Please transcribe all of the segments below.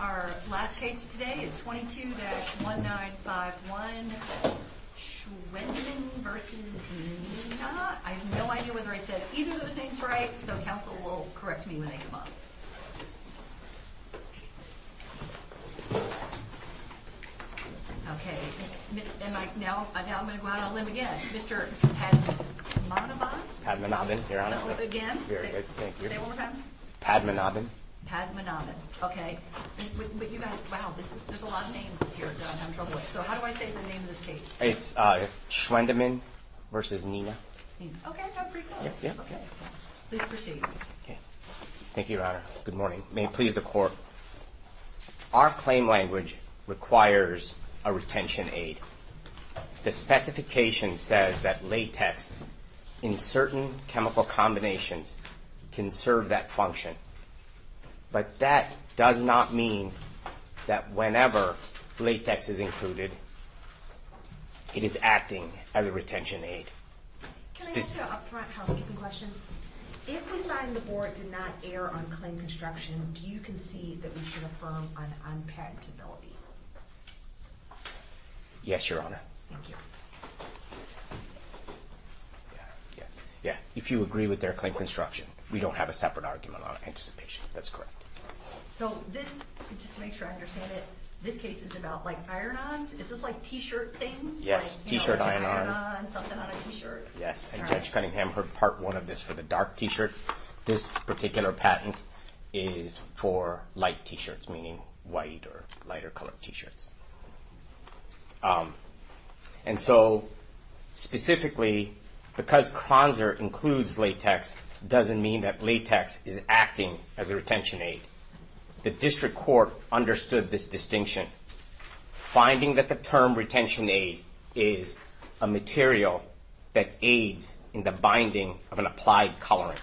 Our last case today is 22-1951 Schwendimann v. Neenah. I have no idea whether I said either of those names right, so counsel will correct me when they come up. Okay, now I'm going to go out on a limb again. Mr. Padmanabhan? Padmanabhan, Your Honor. Again? Very good, thank you. Say it one more time. Padmanabhan. Padmanabhan, okay. But you guys, wow, there's a lot of names here that I'm having trouble with. So how do I say the name of this case? It's Schwendimann v. Neenah. Okay, I'm pretty close. Please proceed. Thank you, Your Honor. Good morning. May it please the Court. Our claim language requires a retention aid. The specification says that latex in certain chemical combinations can serve that function. But that does not mean that whenever latex is included, it is acting as a retention aid. Can I ask an upfront housekeeping question? If we find the board did not err on claim construction, do you concede that we should affirm an unpatentability? Yes, Your Honor. Thank you. Yeah, if you agree with their claim construction, we don't have a separate argument on anticipation. That's correct. So this, just to make sure I understand it, this case is about like iron-ons? Is this like t-shirt things? Yes, t-shirt iron-ons. Like an iron-on, something on a t-shirt. Yes, and Judge Cunningham heard part one of this for the dark t-shirts. This particular patent is for light t-shirts, meaning white or lighter colored t-shirts. And so, specifically, because Kranzer includes latex, doesn't mean that latex is acting as a retention aid. The district court understood this distinction. Finding that the term retention aid is a material that aids in the binding of an applied colorant.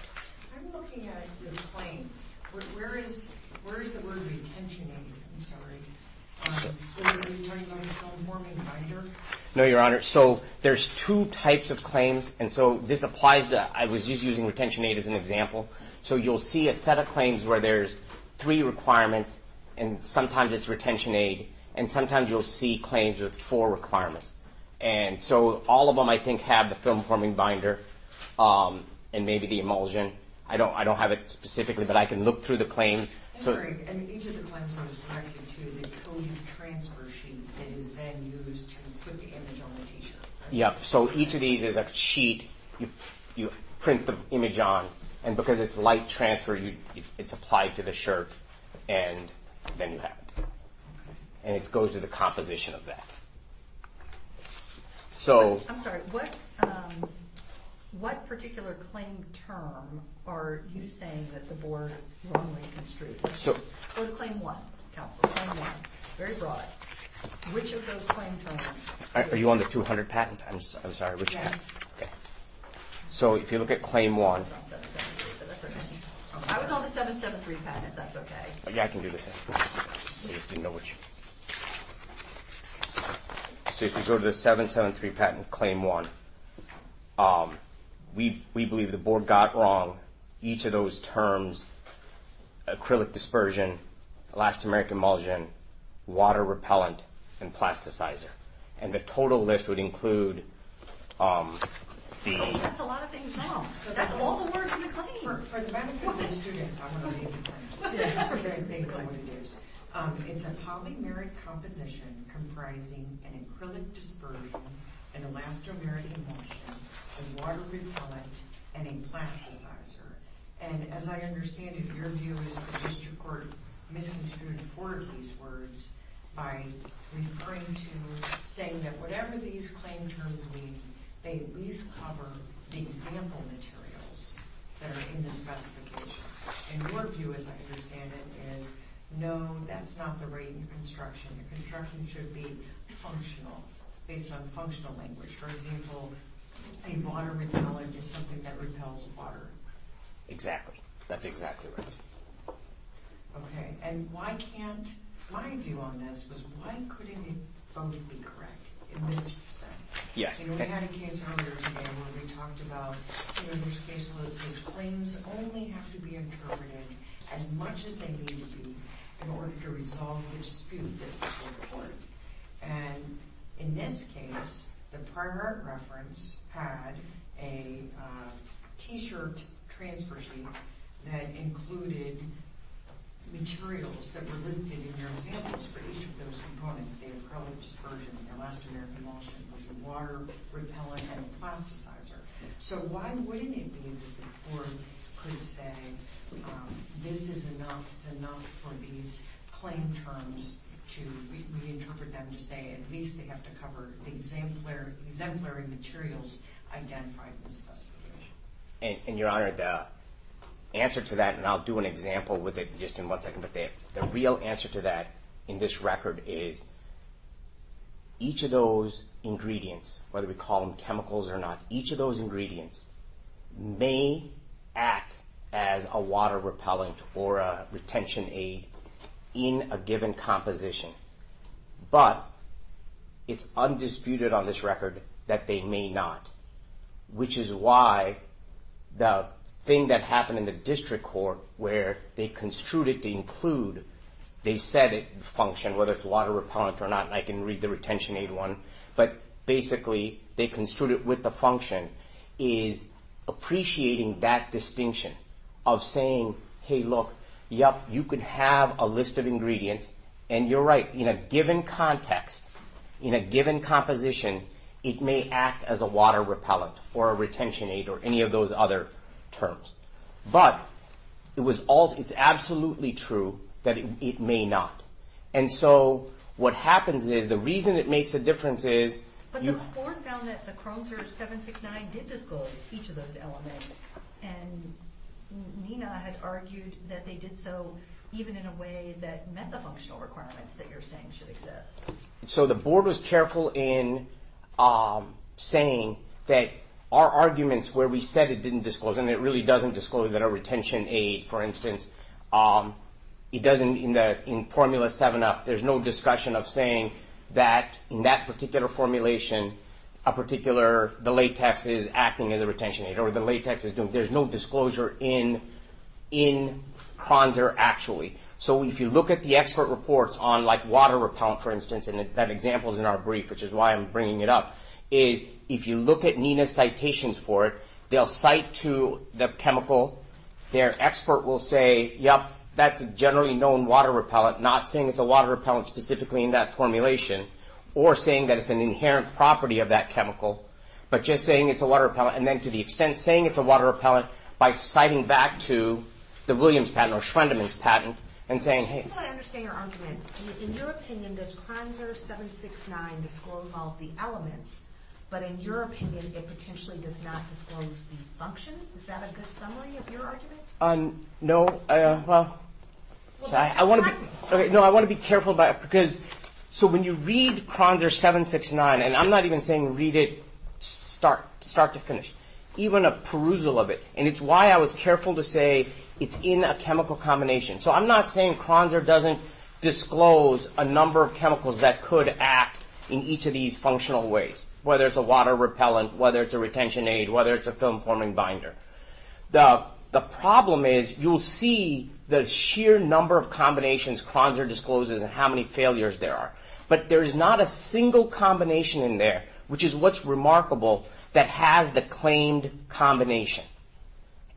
No, Your Honor, so there's two types of claims, and so this applies to, I was just using retention aid as an example. So you'll see a set of claims where there's three requirements, and sometimes it's retention aid, and sometimes you'll see claims with four requirements. And so all of them, I think, have the film-forming binder, and maybe the emulsion. I don't have it specifically, but I can look through the claims. I'm sorry, and each of the claims are connected to the code transfer sheet that is then used to put the image on the t-shirt. Yeah, so each of these is a sheet you print the image on, and because it's light transfer, it's applied to the shirt, and then you have it. And it goes through the composition of that. I'm sorry, what particular claim term are you saying that the board wrongly construed? Go to claim one, counsel, claim one, very broad. Which of those claim terms? Are you on the 200 patent? I'm sorry, which patent? Yes. Okay, so if you look at claim one. It's on 773, but that's okay. I was on the 773 patent, if that's okay. Yeah, I can do the same. I just didn't know which. So if you go to the 773 patent, claim one, we believe the board got wrong. Each of those terms, acrylic dispersion, elastomeric emulsion, water repellent, and plasticizer. And the total list would include the... That's a lot of things now. That's all the words in the claim. For the benefit of the students, I'm going to read the claim. They know what it is. It's a polymeric composition comprising an acrylic dispersion, an elastomeric emulsion, a water repellent, and a plasticizer. And as I understand it, your view is that the district court misconstrued four of these words by referring to... Saying that whatever these claim terms mean, they at least cover the example materials that are in the specification. And your view, as I understand it, is no, that's not the right construction. The construction should be functional, based on functional language. For example, a water repellent is something that repels water. Exactly. That's exactly right. Okay, and why can't... My view on this was why couldn't it both be correct, in this sense? We had a case earlier today where we talked about... There's a case where it says claims only have to be interpreted as much as they need to be in order to resolve the dispute that's before the court. And in this case, the prior reference had a T-shirt transfer sheet that included materials that were listed in their examples for each of those components. The equivalent dispersion in their last American lawsuit was a water repellent and a plasticizer. So why wouldn't it be that the court could say this is enough, it's enough for these claim terms to reinterpret them to say at least they have to cover the exemplary materials identified in the specification? Your Honor, the answer to that, and I'll do an example with it in just one second, but the real answer to that in this record is each of those ingredients, whether we call them chemicals or not, each of those ingredients may act as a water repellent or a retention aid in a given composition. But it's undisputed on this record that they may not, which is why the thing that happened in the district court where they construed it to include... They said it functioned, whether it's water repellent or not, and I can read the retention aid one. But basically they construed it with the function is appreciating that distinction of saying, hey, look, yep, you could have a list of ingredients, and you're right. In a given context, in a given composition, it may act as a water repellent or a retention aid or any of those other terms. But it's absolutely true that it may not. And so what happens is the reason it makes a difference is... But the court found that the Cronzer 769 did disclose each of those elements, and Nina had argued that they did so even in a way that met the functional requirements that you're saying should exist. So the board was careful in saying that our arguments where we said it didn't disclose, and it really doesn't disclose that a retention aid, for instance, it doesn't... In Formula 7 up, there's no discussion of saying that in that particular formulation, a particular... The latex is acting as a retention aid or the latex is doing... There's no disclosure in Cronzer actually. So if you look at the expert reports on, like, water repellent, for instance, and that example is in our brief, which is why I'm bringing it up, is if you look at Nina's citations for it, they'll cite to the chemical. Their expert will say, yep, that's a generally known water repellent, not saying it's a water repellent specifically in that formulation or saying that it's an inherent property of that chemical, but just saying it's a water repellent. And then to the extent saying it's a water repellent by citing back to the Williams patent or Schwendemann's patent and saying... I just want to understand your argument. In your opinion, does Cronzer 769 disclose all of the elements, but in your opinion, it potentially does not disclose the functions? Is that a good summary of your argument? No. I want to be careful about it because... So when you read Cronzer 769, and I'm not even saying read it start to finish, even a perusal of it, and it's why I was careful to say it's in a chemical combination. So I'm not saying Cronzer doesn't disclose a number of chemicals that could act in each of these functional ways, whether it's a water repellent, whether it's a retention aid, whether it's a film forming binder. The problem is you'll see the sheer number of combinations Cronzer discloses and how many failures there are. But there's not a single combination in there, which is what's remarkable, that has the claimed combination.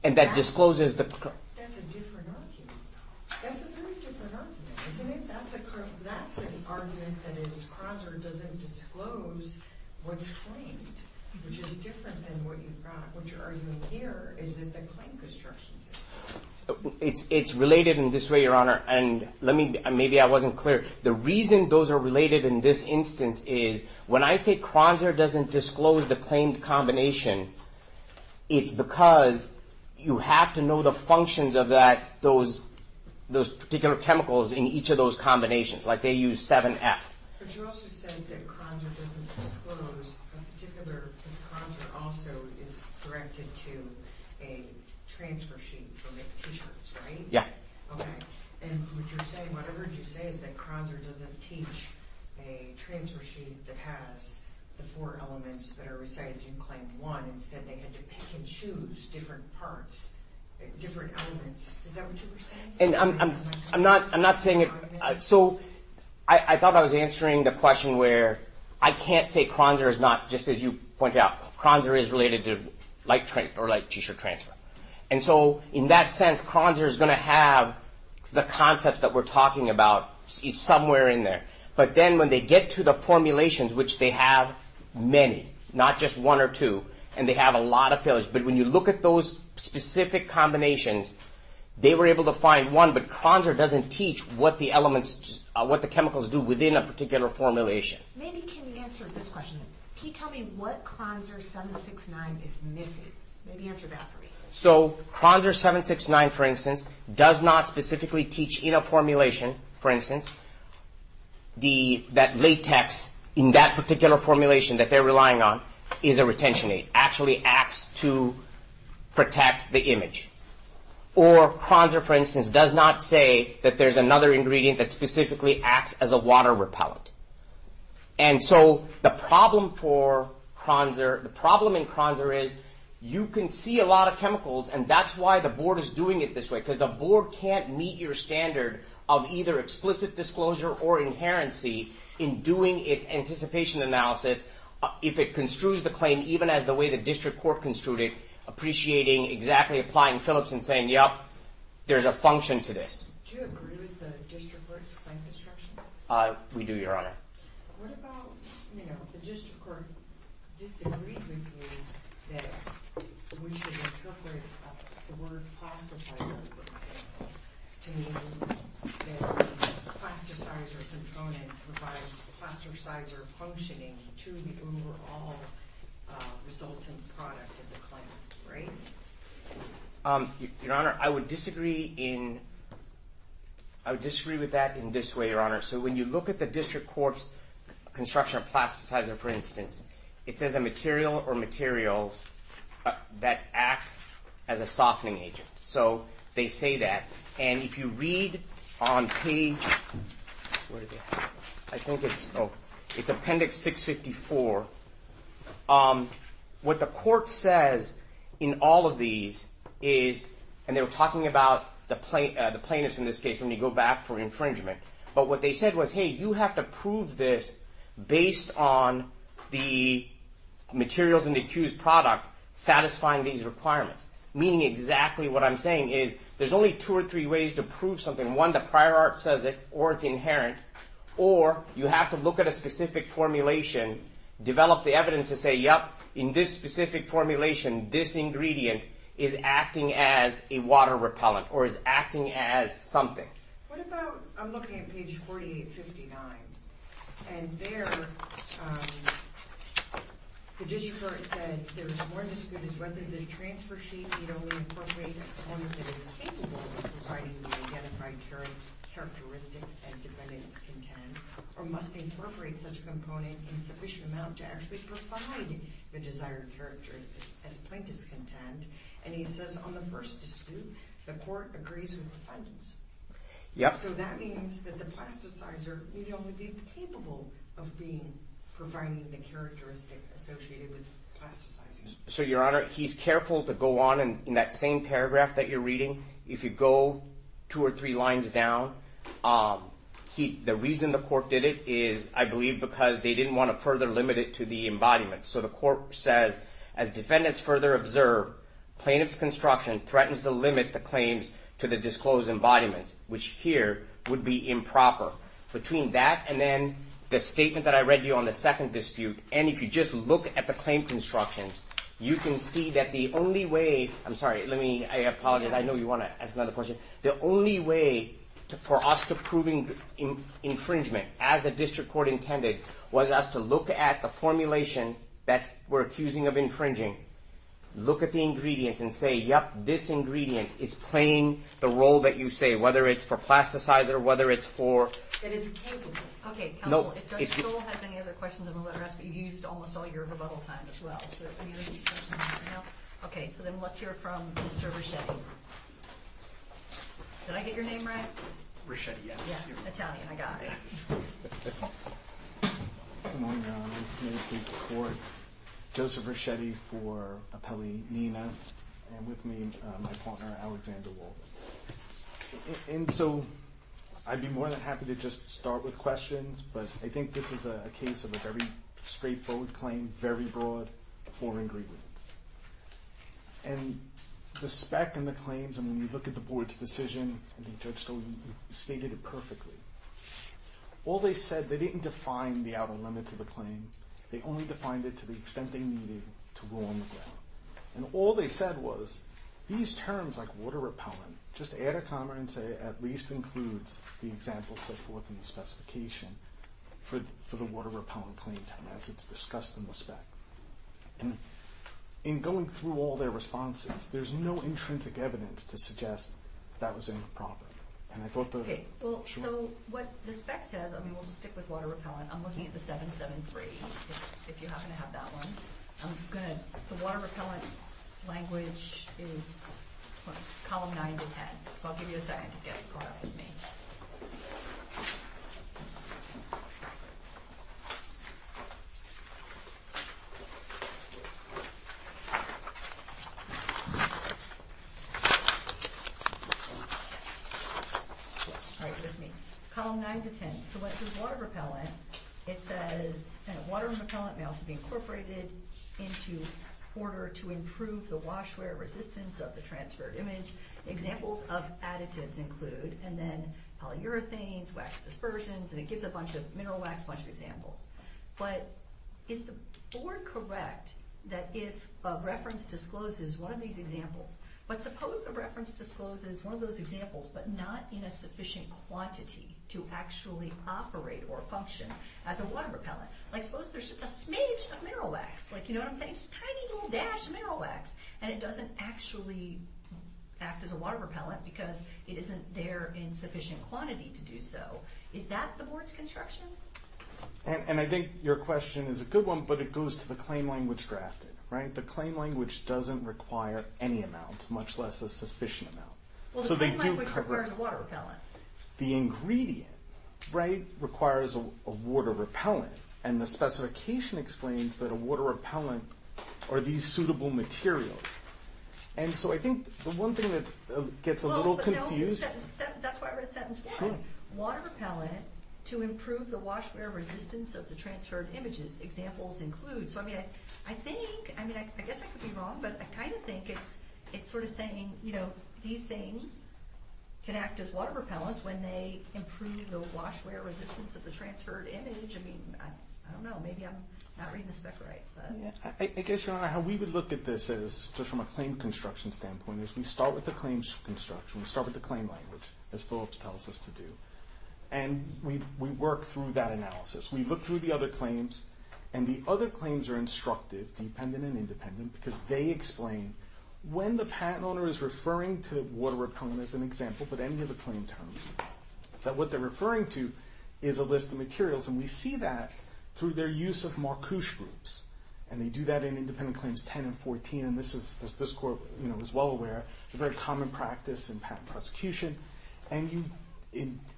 And that discloses the... That's a different argument. That's a very different argument, isn't it? That's the argument that is Cronzer doesn't disclose what's claimed, which is different than what you're arguing here. Is it the claimed constructions? It's related in this way, Your Honor, and maybe I wasn't clear. The reason those are related in this instance is when I say Cronzer doesn't disclose the claimed combination, it's because you have to know the functions of those particular chemicals in each of those combinations. Like they use 7F. But you also said that Cronzer doesn't disclose a particular... Because Cronzer also is directed to a transfer sheet from the T-shirts, right? Yeah. Okay. And what you're saying, what I heard you say is that Cronzer doesn't teach a transfer sheet that has the four elements that are recited in Claim 1. Instead, they had to pick and choose different parts, different elements. Is that what you were saying? I'm not saying it... So I thought I was answering the question where I can't say Cronzer is not, just as you pointed out, Cronzer is related to like T-shirt transfer. And so in that sense, Cronzer is going to have the concepts that we're talking about somewhere in there. But then when they get to the formulations, which they have many, not just one or two, and they have a lot of failures. But when you look at those specific combinations, they were able to find one, but Cronzer doesn't teach what the elements, what the chemicals do within a particular formulation. Maybe can you answer this question? Can you tell me what Cronzer 769 is missing? Maybe answer that for me. So Cronzer 769, for instance, does not specifically teach in a formulation, for instance, that latex in that particular formulation that they're relying on is a retention aid. Actually acts to protect the image. Or Cronzer, for instance, does not say that there's another ingredient that specifically acts as a water repellent. And so the problem for Cronzer, the problem in Cronzer is you can see a lot of chemicals, and that's why the board is doing it this way. Because the board can't meet your standard of either explicit disclosure or inherency in doing its anticipation analysis. If it construes the claim even as the way the district court construed it, appreciating exactly applying Phillips and saying, yep, there's a function to this. Do you agree with the district court's claim construction? We do, Your Honor. What about the district court disagree with you that we should interpret the word plasticizer, for example, to mean that plasticizer component provides plasticizer functioning to the overall resultant product of the claim, right? Your Honor, I would disagree with that in this way, Your Honor. So when you look at the district court's construction of plasticizer, for instance, it says a material or materials that act as a softening agent. So they say that. And if you read on page, I think it's appendix 654, what the court says in all of these is, and they were talking about the plaintiffs in this case when you go back for infringement. But what they said was, hey, you have to prove this based on the materials in the accused product satisfying these requirements, meaning exactly what I'm saying is there's only two or three ways to prove something. One, the prior art says it or it's inherent, or you have to look at a specific formulation, develop the evidence to say, yep, in this specific formulation, this ingredient is acting as a water repellent or is acting as something. What about, I'm looking at page 4859, and there, the district court said there is more dispute as whether the transfer sheet need only incorporate one that is capable of providing the identified characteristic as defendant's content, or must incorporate such component in sufficient amount to actually provide the desired characteristic as plaintiff's content. And he says on the first dispute, the court agrees with defendants. So that means that the plasticizer need only be capable of providing the characteristic associated with plasticizing. So, Your Honor, he's careful to go on, and in that same paragraph that you're reading, if you go two or three lines down, the reason the court did it is, I believe, because they didn't want to further limit it to the embodiment. So the court says, as defendants further observe, plaintiff's construction threatens to limit the claims to the disclosed embodiments, which here would be improper. Between that and then the statement that I read to you on the second dispute, and if you just look at the claim constructions, you can see that the only way, I'm sorry, let me, I apologize, I know you want to ask another question. The only way for us to prove infringement, as the district court intended, was us to look at the formulation that we're accusing of infringing. Look at the ingredients and say, yep, this ingredient is playing the role that you say, whether it's for plasticizer, whether it's for- It is capable. Okay, counsel, if Judge Stoll has any other questions, I'm going to let her ask, but you've used almost all your rebuttal time as well. Okay, so then let's hear from Mr. Reschetti. Did I get your name right? Reschetti, yes. Yeah, Italian, I got it. Good morning, Your Honor. This is a case in court. Joseph Reschetti for Appellee Nina, and with me, my partner, Alexander Walden. And so I'd be more than happy to just start with questions, but I think this is a case of a very straightforward claim, very broad, four ingredients. And the spec and the claims, and when you look at the board's decision, and Judge Stoll, you stated it perfectly. All they said, they didn't define the outer limits of the claim, they only defined it to the extent they needed to rule on the ground. And all they said was, these terms like water repellent, just add a comma and say, at least includes the example set forth in the specification for the water repellent claim, as it's discussed in the spec. And in going through all their responses, there's no intrinsic evidence to suggest that was improper. And I thought the- Okay, well, so what the spec says, I mean, we'll just stick with water repellent. I'm looking at the 773, if you happen to have that one. I'm going to, the water repellent language is column 9 to 10. So I'll give you a second to get it brought up with me. Right with me. Column 9 to 10. So what does water repellent, it says, water repellent may also be incorporated into order to improve the washware resistance of the transferred image. Examples of additives include, and then polyurethanes, wax dispersions, and it gives a bunch of, mineral wax, a bunch of examples. But is the board correct that if a reference discloses one of these examples, but suppose the reference discloses one of those examples, but not in a sufficient quantity to actually operate or function as a water repellent. Like suppose there's just a smidge of mineral wax, like, you know what I'm saying? Just a tiny little dash of mineral wax, and it doesn't actually act as a water repellent because it isn't there in sufficient quantity to do so. Is that the board's construction? And I think your question is a good one, but it goes to the claim language drafted, right? The claim language doesn't require any amount, much less a sufficient amount. Well, the claim language requires water repellent. The ingredient, right, requires a water repellent. And the specification explains that a water repellent are these suitable materials. And so I think the one thing that gets a little confused. That's why I wrote a sentence. Water repellent to improve the washware resistance of the transferred images. Examples include. So, I mean, I think, I mean, I guess I could be wrong, but I kind of think it's sort of saying, you know, these things can act as water repellents when they improve the washware resistance of the transferred image. I mean, I don't know. Maybe I'm not reading the spec right. I guess, Your Honor, how we would look at this is, just from a claim construction standpoint, is we start with the claims construction. We start with the claim language, as Phillips tells us to do. And we work through that analysis. We look through the other claims. And the other claims are instructive, dependent and independent, because they explain when the patent owner is referring to water repellent as an example, but any of the claim terms, that what they're referring to is a list of materials. And we see that through their use of Marcouche groups. And they do that in independent claims 10 and 14. And this is, as this Court, you know, is well aware, a very common practice in patent prosecution. And you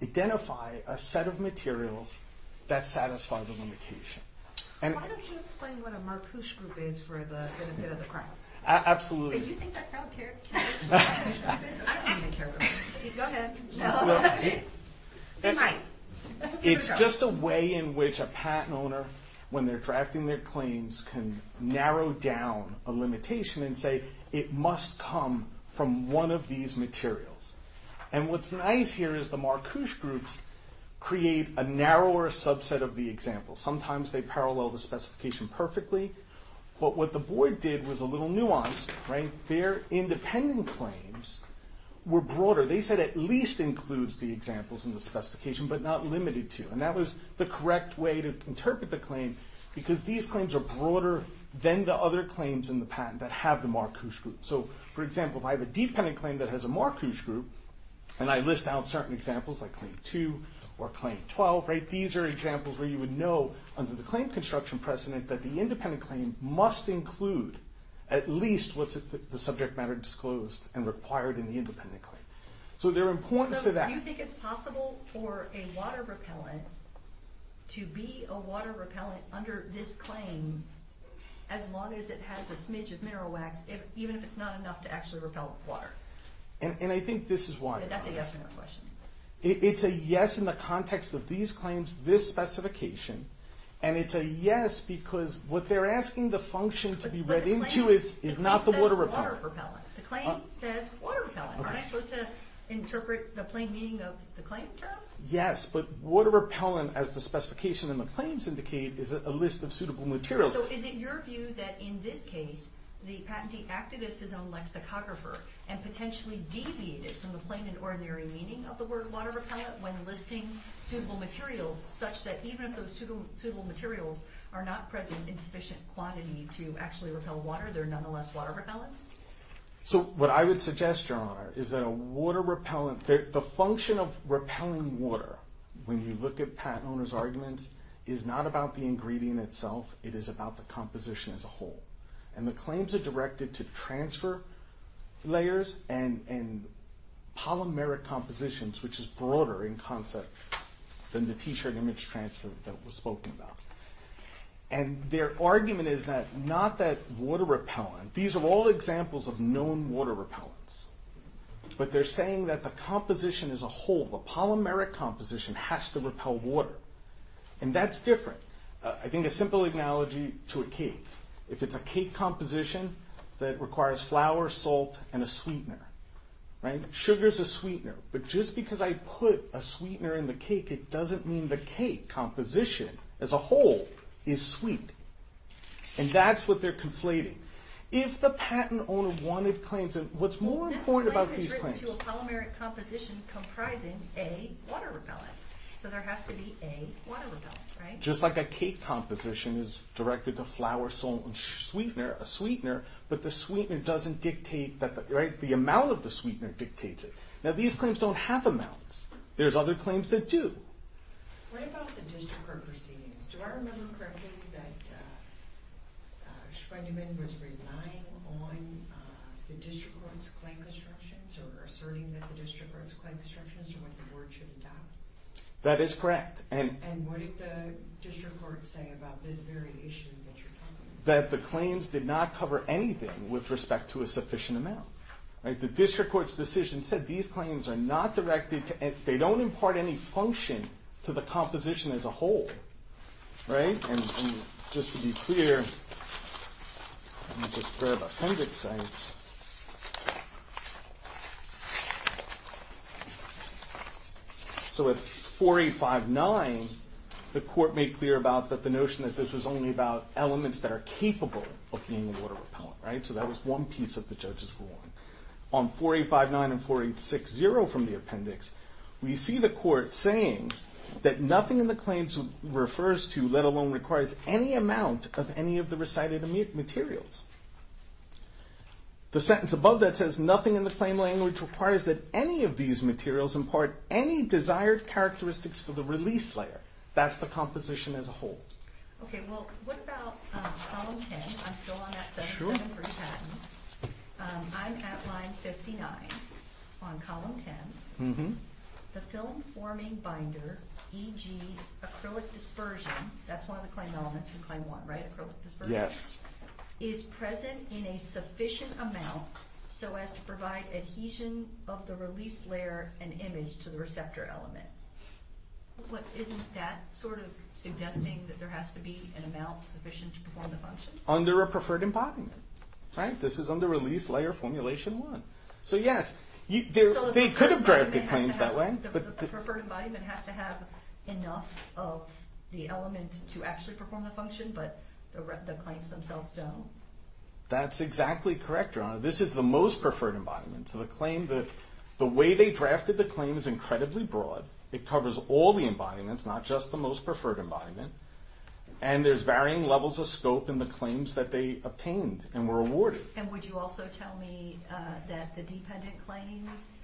identify a set of materials that satisfy the limitation. Why don't you explain what a Marcouche group is for the benefit of the crowd? Absolutely. Do you think the crowd cares? I don't even care. Go ahead. They might. It's just a way in which a patent owner, when they're drafting their claims, can narrow down a limitation and say, it must come from one of these materials. And what's nice here is the Marcouche groups create a narrower subset of the example. Sometimes they parallel the specification perfectly. But what the board did was a little nuanced, right? Their independent claims were broader. They said at least includes the examples in the specification, but not limited to. And that was the correct way to interpret the claim, because these claims are broader than the other claims in the patent that have the Marcouche group. So, for example, if I have a dependent claim that has a Marcouche group, and I list out certain examples like Claim 2 or Claim 12, right, these are examples where you would know under the claim construction precedent that the independent claim must include at least what's the subject matter disclosed and required in the independent claim. So they're important for that. So you think it's possible for a water repellent to be a water repellent under this claim as long as it has a smidge of mineral wax, even if it's not enough to actually repel water? And I think this is why. That's a yes or no question. It's a yes in the context of these claims, this specification. And it's a yes because what they're asking the function to be read into is not the water repellent. The claim says water repellent. Aren't I supposed to interpret the plain meaning of the claim term? Yes, but water repellent, as the specification in the claims indicate, is a list of suitable materials. So is it your view that in this case the patentee acted as his own lexicographer and potentially deviated from the plain and ordinary meaning of the word water repellent when listing suitable materials, such that even if those suitable materials are not present in sufficient quantity to actually repel water, they're nonetheless water repellents? So what I would suggest, Your Honor, is that the function of repelling water, when you look at patent owners' arguments, is not about the ingredient itself. It is about the composition as a whole. And the claims are directed to transfer layers and polymeric compositions, which is broader in concept than the T-shirt image transfer that was spoken about. And their argument is not that water repellent. These are all examples of known water repellents. But they're saying that the composition as a whole, the polymeric composition, has to repel water. And that's different. I think a simple analogy to a cake. If it's a cake composition that requires flour, salt, and a sweetener. Sugar is a sweetener. But just because I put a sweetener in the cake, it doesn't mean the cake composition as a whole is sweet. And that's what they're conflating. If the patent owner wanted claims, and what's more important about these claims... This claim is written to a polymeric composition comprising a water repellent. So there has to be a water repellent, right? Just like a cake composition is directed to flour, salt, and a sweetener. But the amount of the sweetener dictates it. Now these claims don't have amounts. There's other claims that do. What about the district court proceedings? Do I remember correctly that Schweinemann was relying on the district court's claim constructions? Or asserting that the district court's claim constructions are what the board should adopt? That is correct. And what did the district court say about this variation that you're talking about? That the claims did not cover anything with respect to a sufficient amount. The district court's decision said these claims are not directed to... They don't impart any function to the composition as a whole. And just to be clear... Let me just grab Appendix X. So at 4859, the court made clear about the notion that this was only about elements that are capable of being a water repellent. So that was one piece that the judges were on. On 4859 and 4860 from the appendix, we see the court saying that nothing in the claims refers to, let alone requires, any amount of any of the recited materials. The sentence above that says nothing in the claim language requires that any of these materials impart any desired characteristics for the release layer. That's the composition as a whole. Okay, well what about Column 10? I'm still on that 77% I'm at line 59 on Column 10. The film forming binder, e.g. acrylic dispersion, that's one of the claim elements in Claim 1, right? Acrylic dispersion? Yes. Is present in a sufficient amount so as to provide adhesion of the release layer and image to the receptor element. Isn't that sort of suggesting that there has to be an amount sufficient to perform the function? Under a preferred embodiment. This is under Release Layer Formulation 1. So yes, they could have drafted claims that way. The preferred embodiment has to have enough of the element to actually perform the function, but the claims themselves don't? That's exactly correct, Your Honor. This is the most preferred embodiment. So the claim, the way they drafted the claim is incredibly broad. It covers all the embodiments, not just the most preferred embodiment. And there's varying levels of scope in the claims that they obtained and were awarded. And would you also tell me that the dependent claims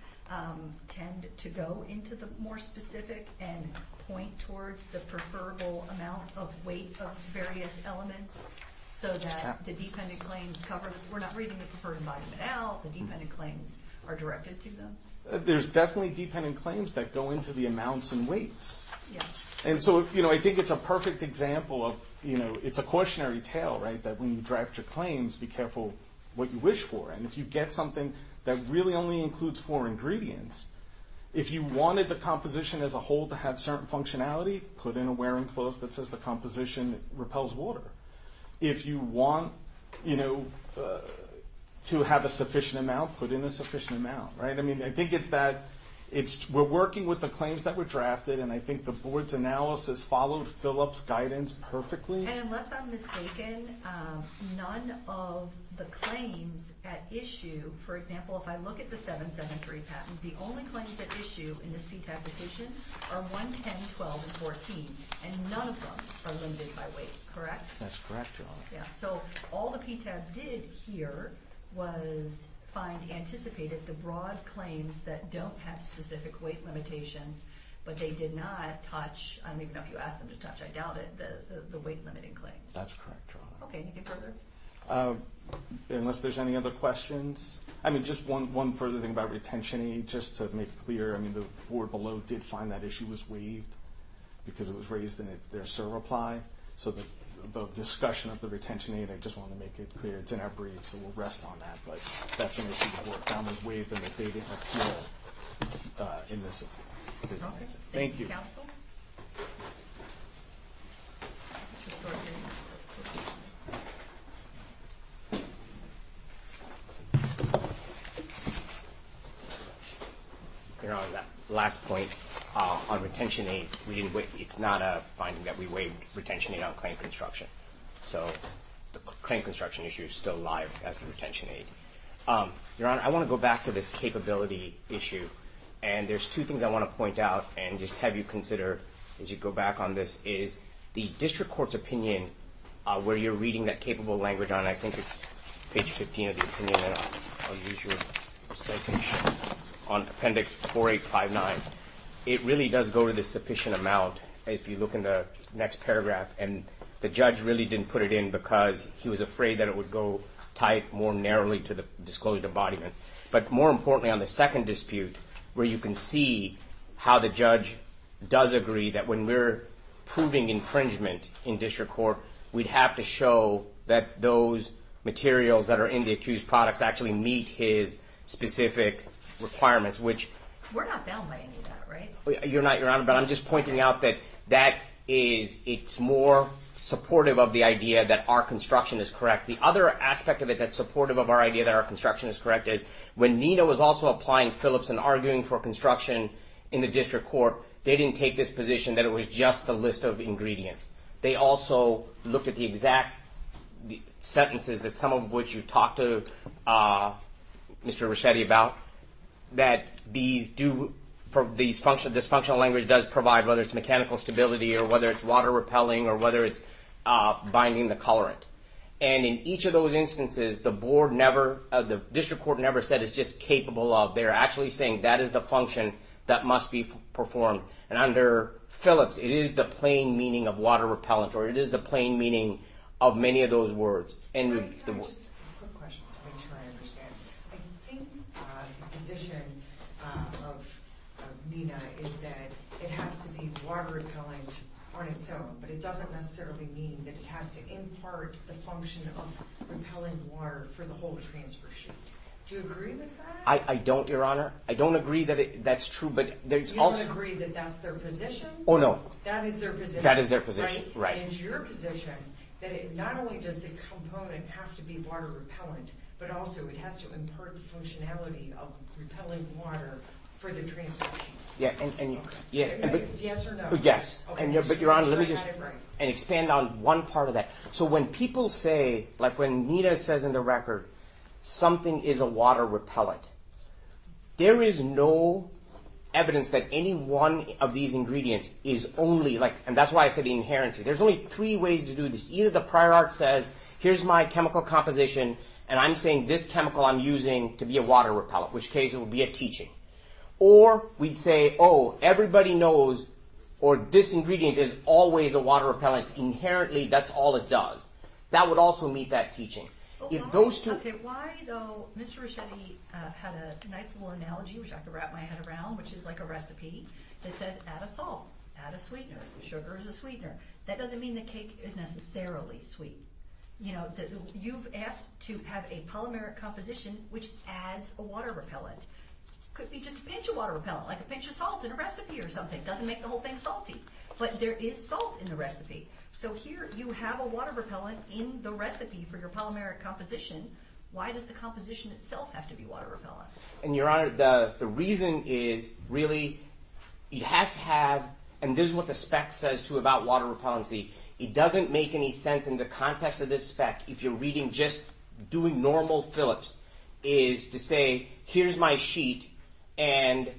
tend to go into the more specific and point towards the preferable amount of weight of various elements? So that the dependent claims cover, we're not reading the preferred embodiment now, the dependent claims are directed to them? There's definitely dependent claims that go into the amounts and weights. And so I think it's a perfect example of, it's a cautionary tale that when you draft your claims, be careful what you wish for. And if you get something that really only includes four ingredients, if you wanted the composition as a whole to have certain functionality, put in a wear and close that says the composition repels water. If you want to have a sufficient amount, put in a sufficient amount. I think it's that, we're working with the claims that were drafted, and I think the board's analysis followed Phillip's guidance perfectly. And unless I'm mistaken, none of the claims at issue, for example, if I look at the 773 patent, the only claims at issue in this PTAB petition are 110, 12, and 14. And none of them are limited by weight, correct? That's correct, Your Honor. Yeah, so all the PTAB did here was find anticipated the broad claims that don't have specific weight limitations, but they did not touch, I don't even know if you asked them to touch, I doubt it, the weight limiting claims. That's correct, Your Honor. Okay, anything further? Unless there's any other questions. I mean, just one further thing about retention aid, just to make clear, I mean, the board below did find that issue was waived because it was raised in their SIR reply. So the discussion of the retention aid, I just wanted to make it clear, it's in our briefs, so we'll rest on that. But that's an issue the board found was waived and that they didn't appeal in this case. Thank you. Thank you, counsel. Your Honor, that last point on retention aid, it's not a finding that we waived retention aid on claim construction. So the claim construction issue is still live as the retention aid. Your Honor, I want to go back to this capability issue, and there's two things I want to point out and just have you consider as you go back on this, is the district court's opinion, where you're reading that capable language on, I think it's page 15 of the opinion, and I'll use your citation, on appendix 4859. It really does go to the sufficient amount, if you look in the next paragraph, and the judge really didn't put it in because he was afraid that it would go, tie it more narrowly to the disclosed embodiment. But more importantly, on the second dispute, where you can see how the judge does agree that when we're proving infringement in district court, we'd have to show that those materials that are in the accused products actually meet his specific requirements, which... We're not bailing by any of that, right? You're not, Your Honor, but I'm just pointing out that that is, it's more supportive of the idea that our construction is correct. The other aspect of it that's supportive of our idea that our construction is correct is, when Nino was also applying Phillips and arguing for construction in the district court, they didn't take this position that it was just a list of ingredients. They also looked at the exact sentences that some of which you talked to Mr. Ricchetti about, that these do, this functional language does provide, whether it's mechanical stability or whether it's water repelling or whether it's binding the colorant. And in each of those instances, the board never, the district court never said it's just capable of. They're actually saying that is the function that must be performed. And under Phillips, it is the plain meaning of water repellent, or it is the plain meaning of many of those words. Can I just, quick question to make sure I understand. I think the position of Nina is that it has to be water repellent on its own, but it doesn't necessarily mean that it has to impart the function of repellent water for the whole transfer sheet. Do you agree with that? I don't, Your Honor. I don't agree that that's true, but there's also. You don't agree that that's their position? Oh, no. That is their position, right? That is their position, right. And it's your position that it not only does the component have to be water repellent, but also it has to impart the functionality of repellent water for the transfer sheet. Yeah, and yes. Yes or no? Yes. But, Your Honor, let me just, and expand on one part of that. So when people say, like when Nina says in the record, something is a water repellent, there is no evidence that any one of these ingredients is only, like, and that's why I said the inherency. There's only three ways to do this. Either the prior art says, here's my chemical composition, and I'm saying this chemical I'm using to be a water repellent, which case it would be a teaching. Or we'd say, oh, everybody knows, or this ingredient is always a water repellent. Inherently, that's all it does. That would also meet that teaching. If those two... Okay, why, though, Mr. Reschetti had a nice little analogy, which I could wrap my head around, which is like a recipe that says add a salt, add a sweetener. Sugar is a sweetener. That doesn't mean the cake is necessarily sweet. You know, you've asked to have a polymeric composition which adds a water repellent. It could be just a pinch of water repellent, like a pinch of salt in a recipe or something. It doesn't make the whole thing salty. But there is salt in the recipe. So here you have a water repellent in the recipe for your polymeric composition. Why does the composition itself have to be water repellent? And, Your Honor, the reason is really it has to have... And this is what the spec says, too, about water repellency. It doesn't make any sense in the context of this spec, if you're reading just doing normal Phillips, is to say here's my sheet and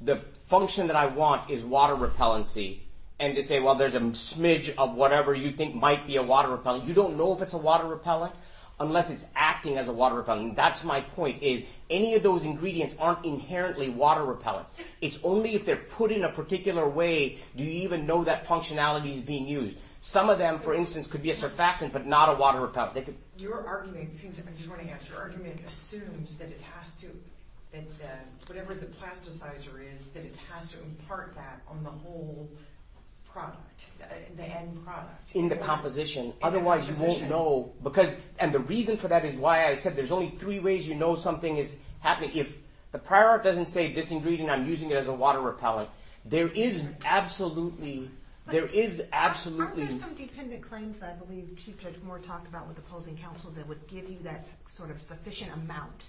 the function that I want is water repellency and to say, well, there's a smidge of whatever you think might be a water repellent. You don't know if it's a water repellent unless it's acting as a water repellent. And that's my point is any of those ingredients aren't inherently water repellents. It's only if they're put in a particular way do you even know that functionality is being used. Some of them, for instance, could be a surfactant but not a water repellent. Your argument assumes that it has to, whatever the plasticizer is, that it has to impart that on the whole product, the end product. In the composition, otherwise you won't know. And the reason for that is why I said there's only three ways you know something is happening. If the prior art doesn't say this ingredient, I'm using it as a water repellent. There is absolutely... There are some dependent claims that I believe Chief Judge Moore talked about with opposing counsel that would give you that sort of sufficient amount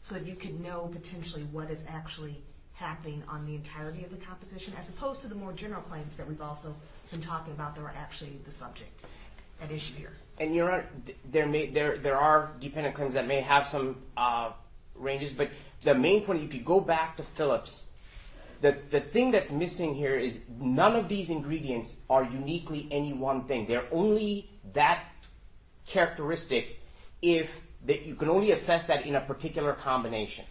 so that you could know potentially what is actually happening on the entirety of the composition as opposed to the more general claims that we've also been talking about that are actually the subject at issue here. And Your Honor, there are dependent claims that may have some ranges, but the main point, if you go back to Phillips, the thing that's missing here is none of these ingredients are uniquely any one thing. They're only that characteristic if you can only assess that in a particular combination.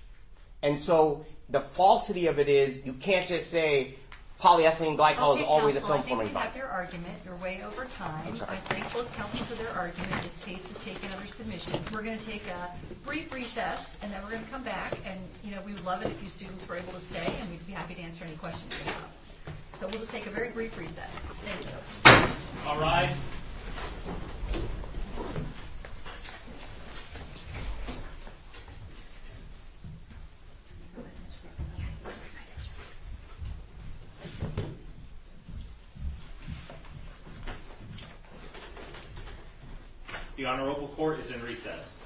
And so the falsity of it is you can't just say polyethylene glycol is always a film-forming bond. Okay, counsel, I think you have your argument. You're way over time. I thank both counsel for their argument. This case is taken under submission. We're going to take a brief recess, and then we're going to come back, and we would love it if you students were able to stay, and we'd be happy to answer any questions you have. So we'll just take a very brief recess. Thank you. All rise. The Honorable Court is in recess.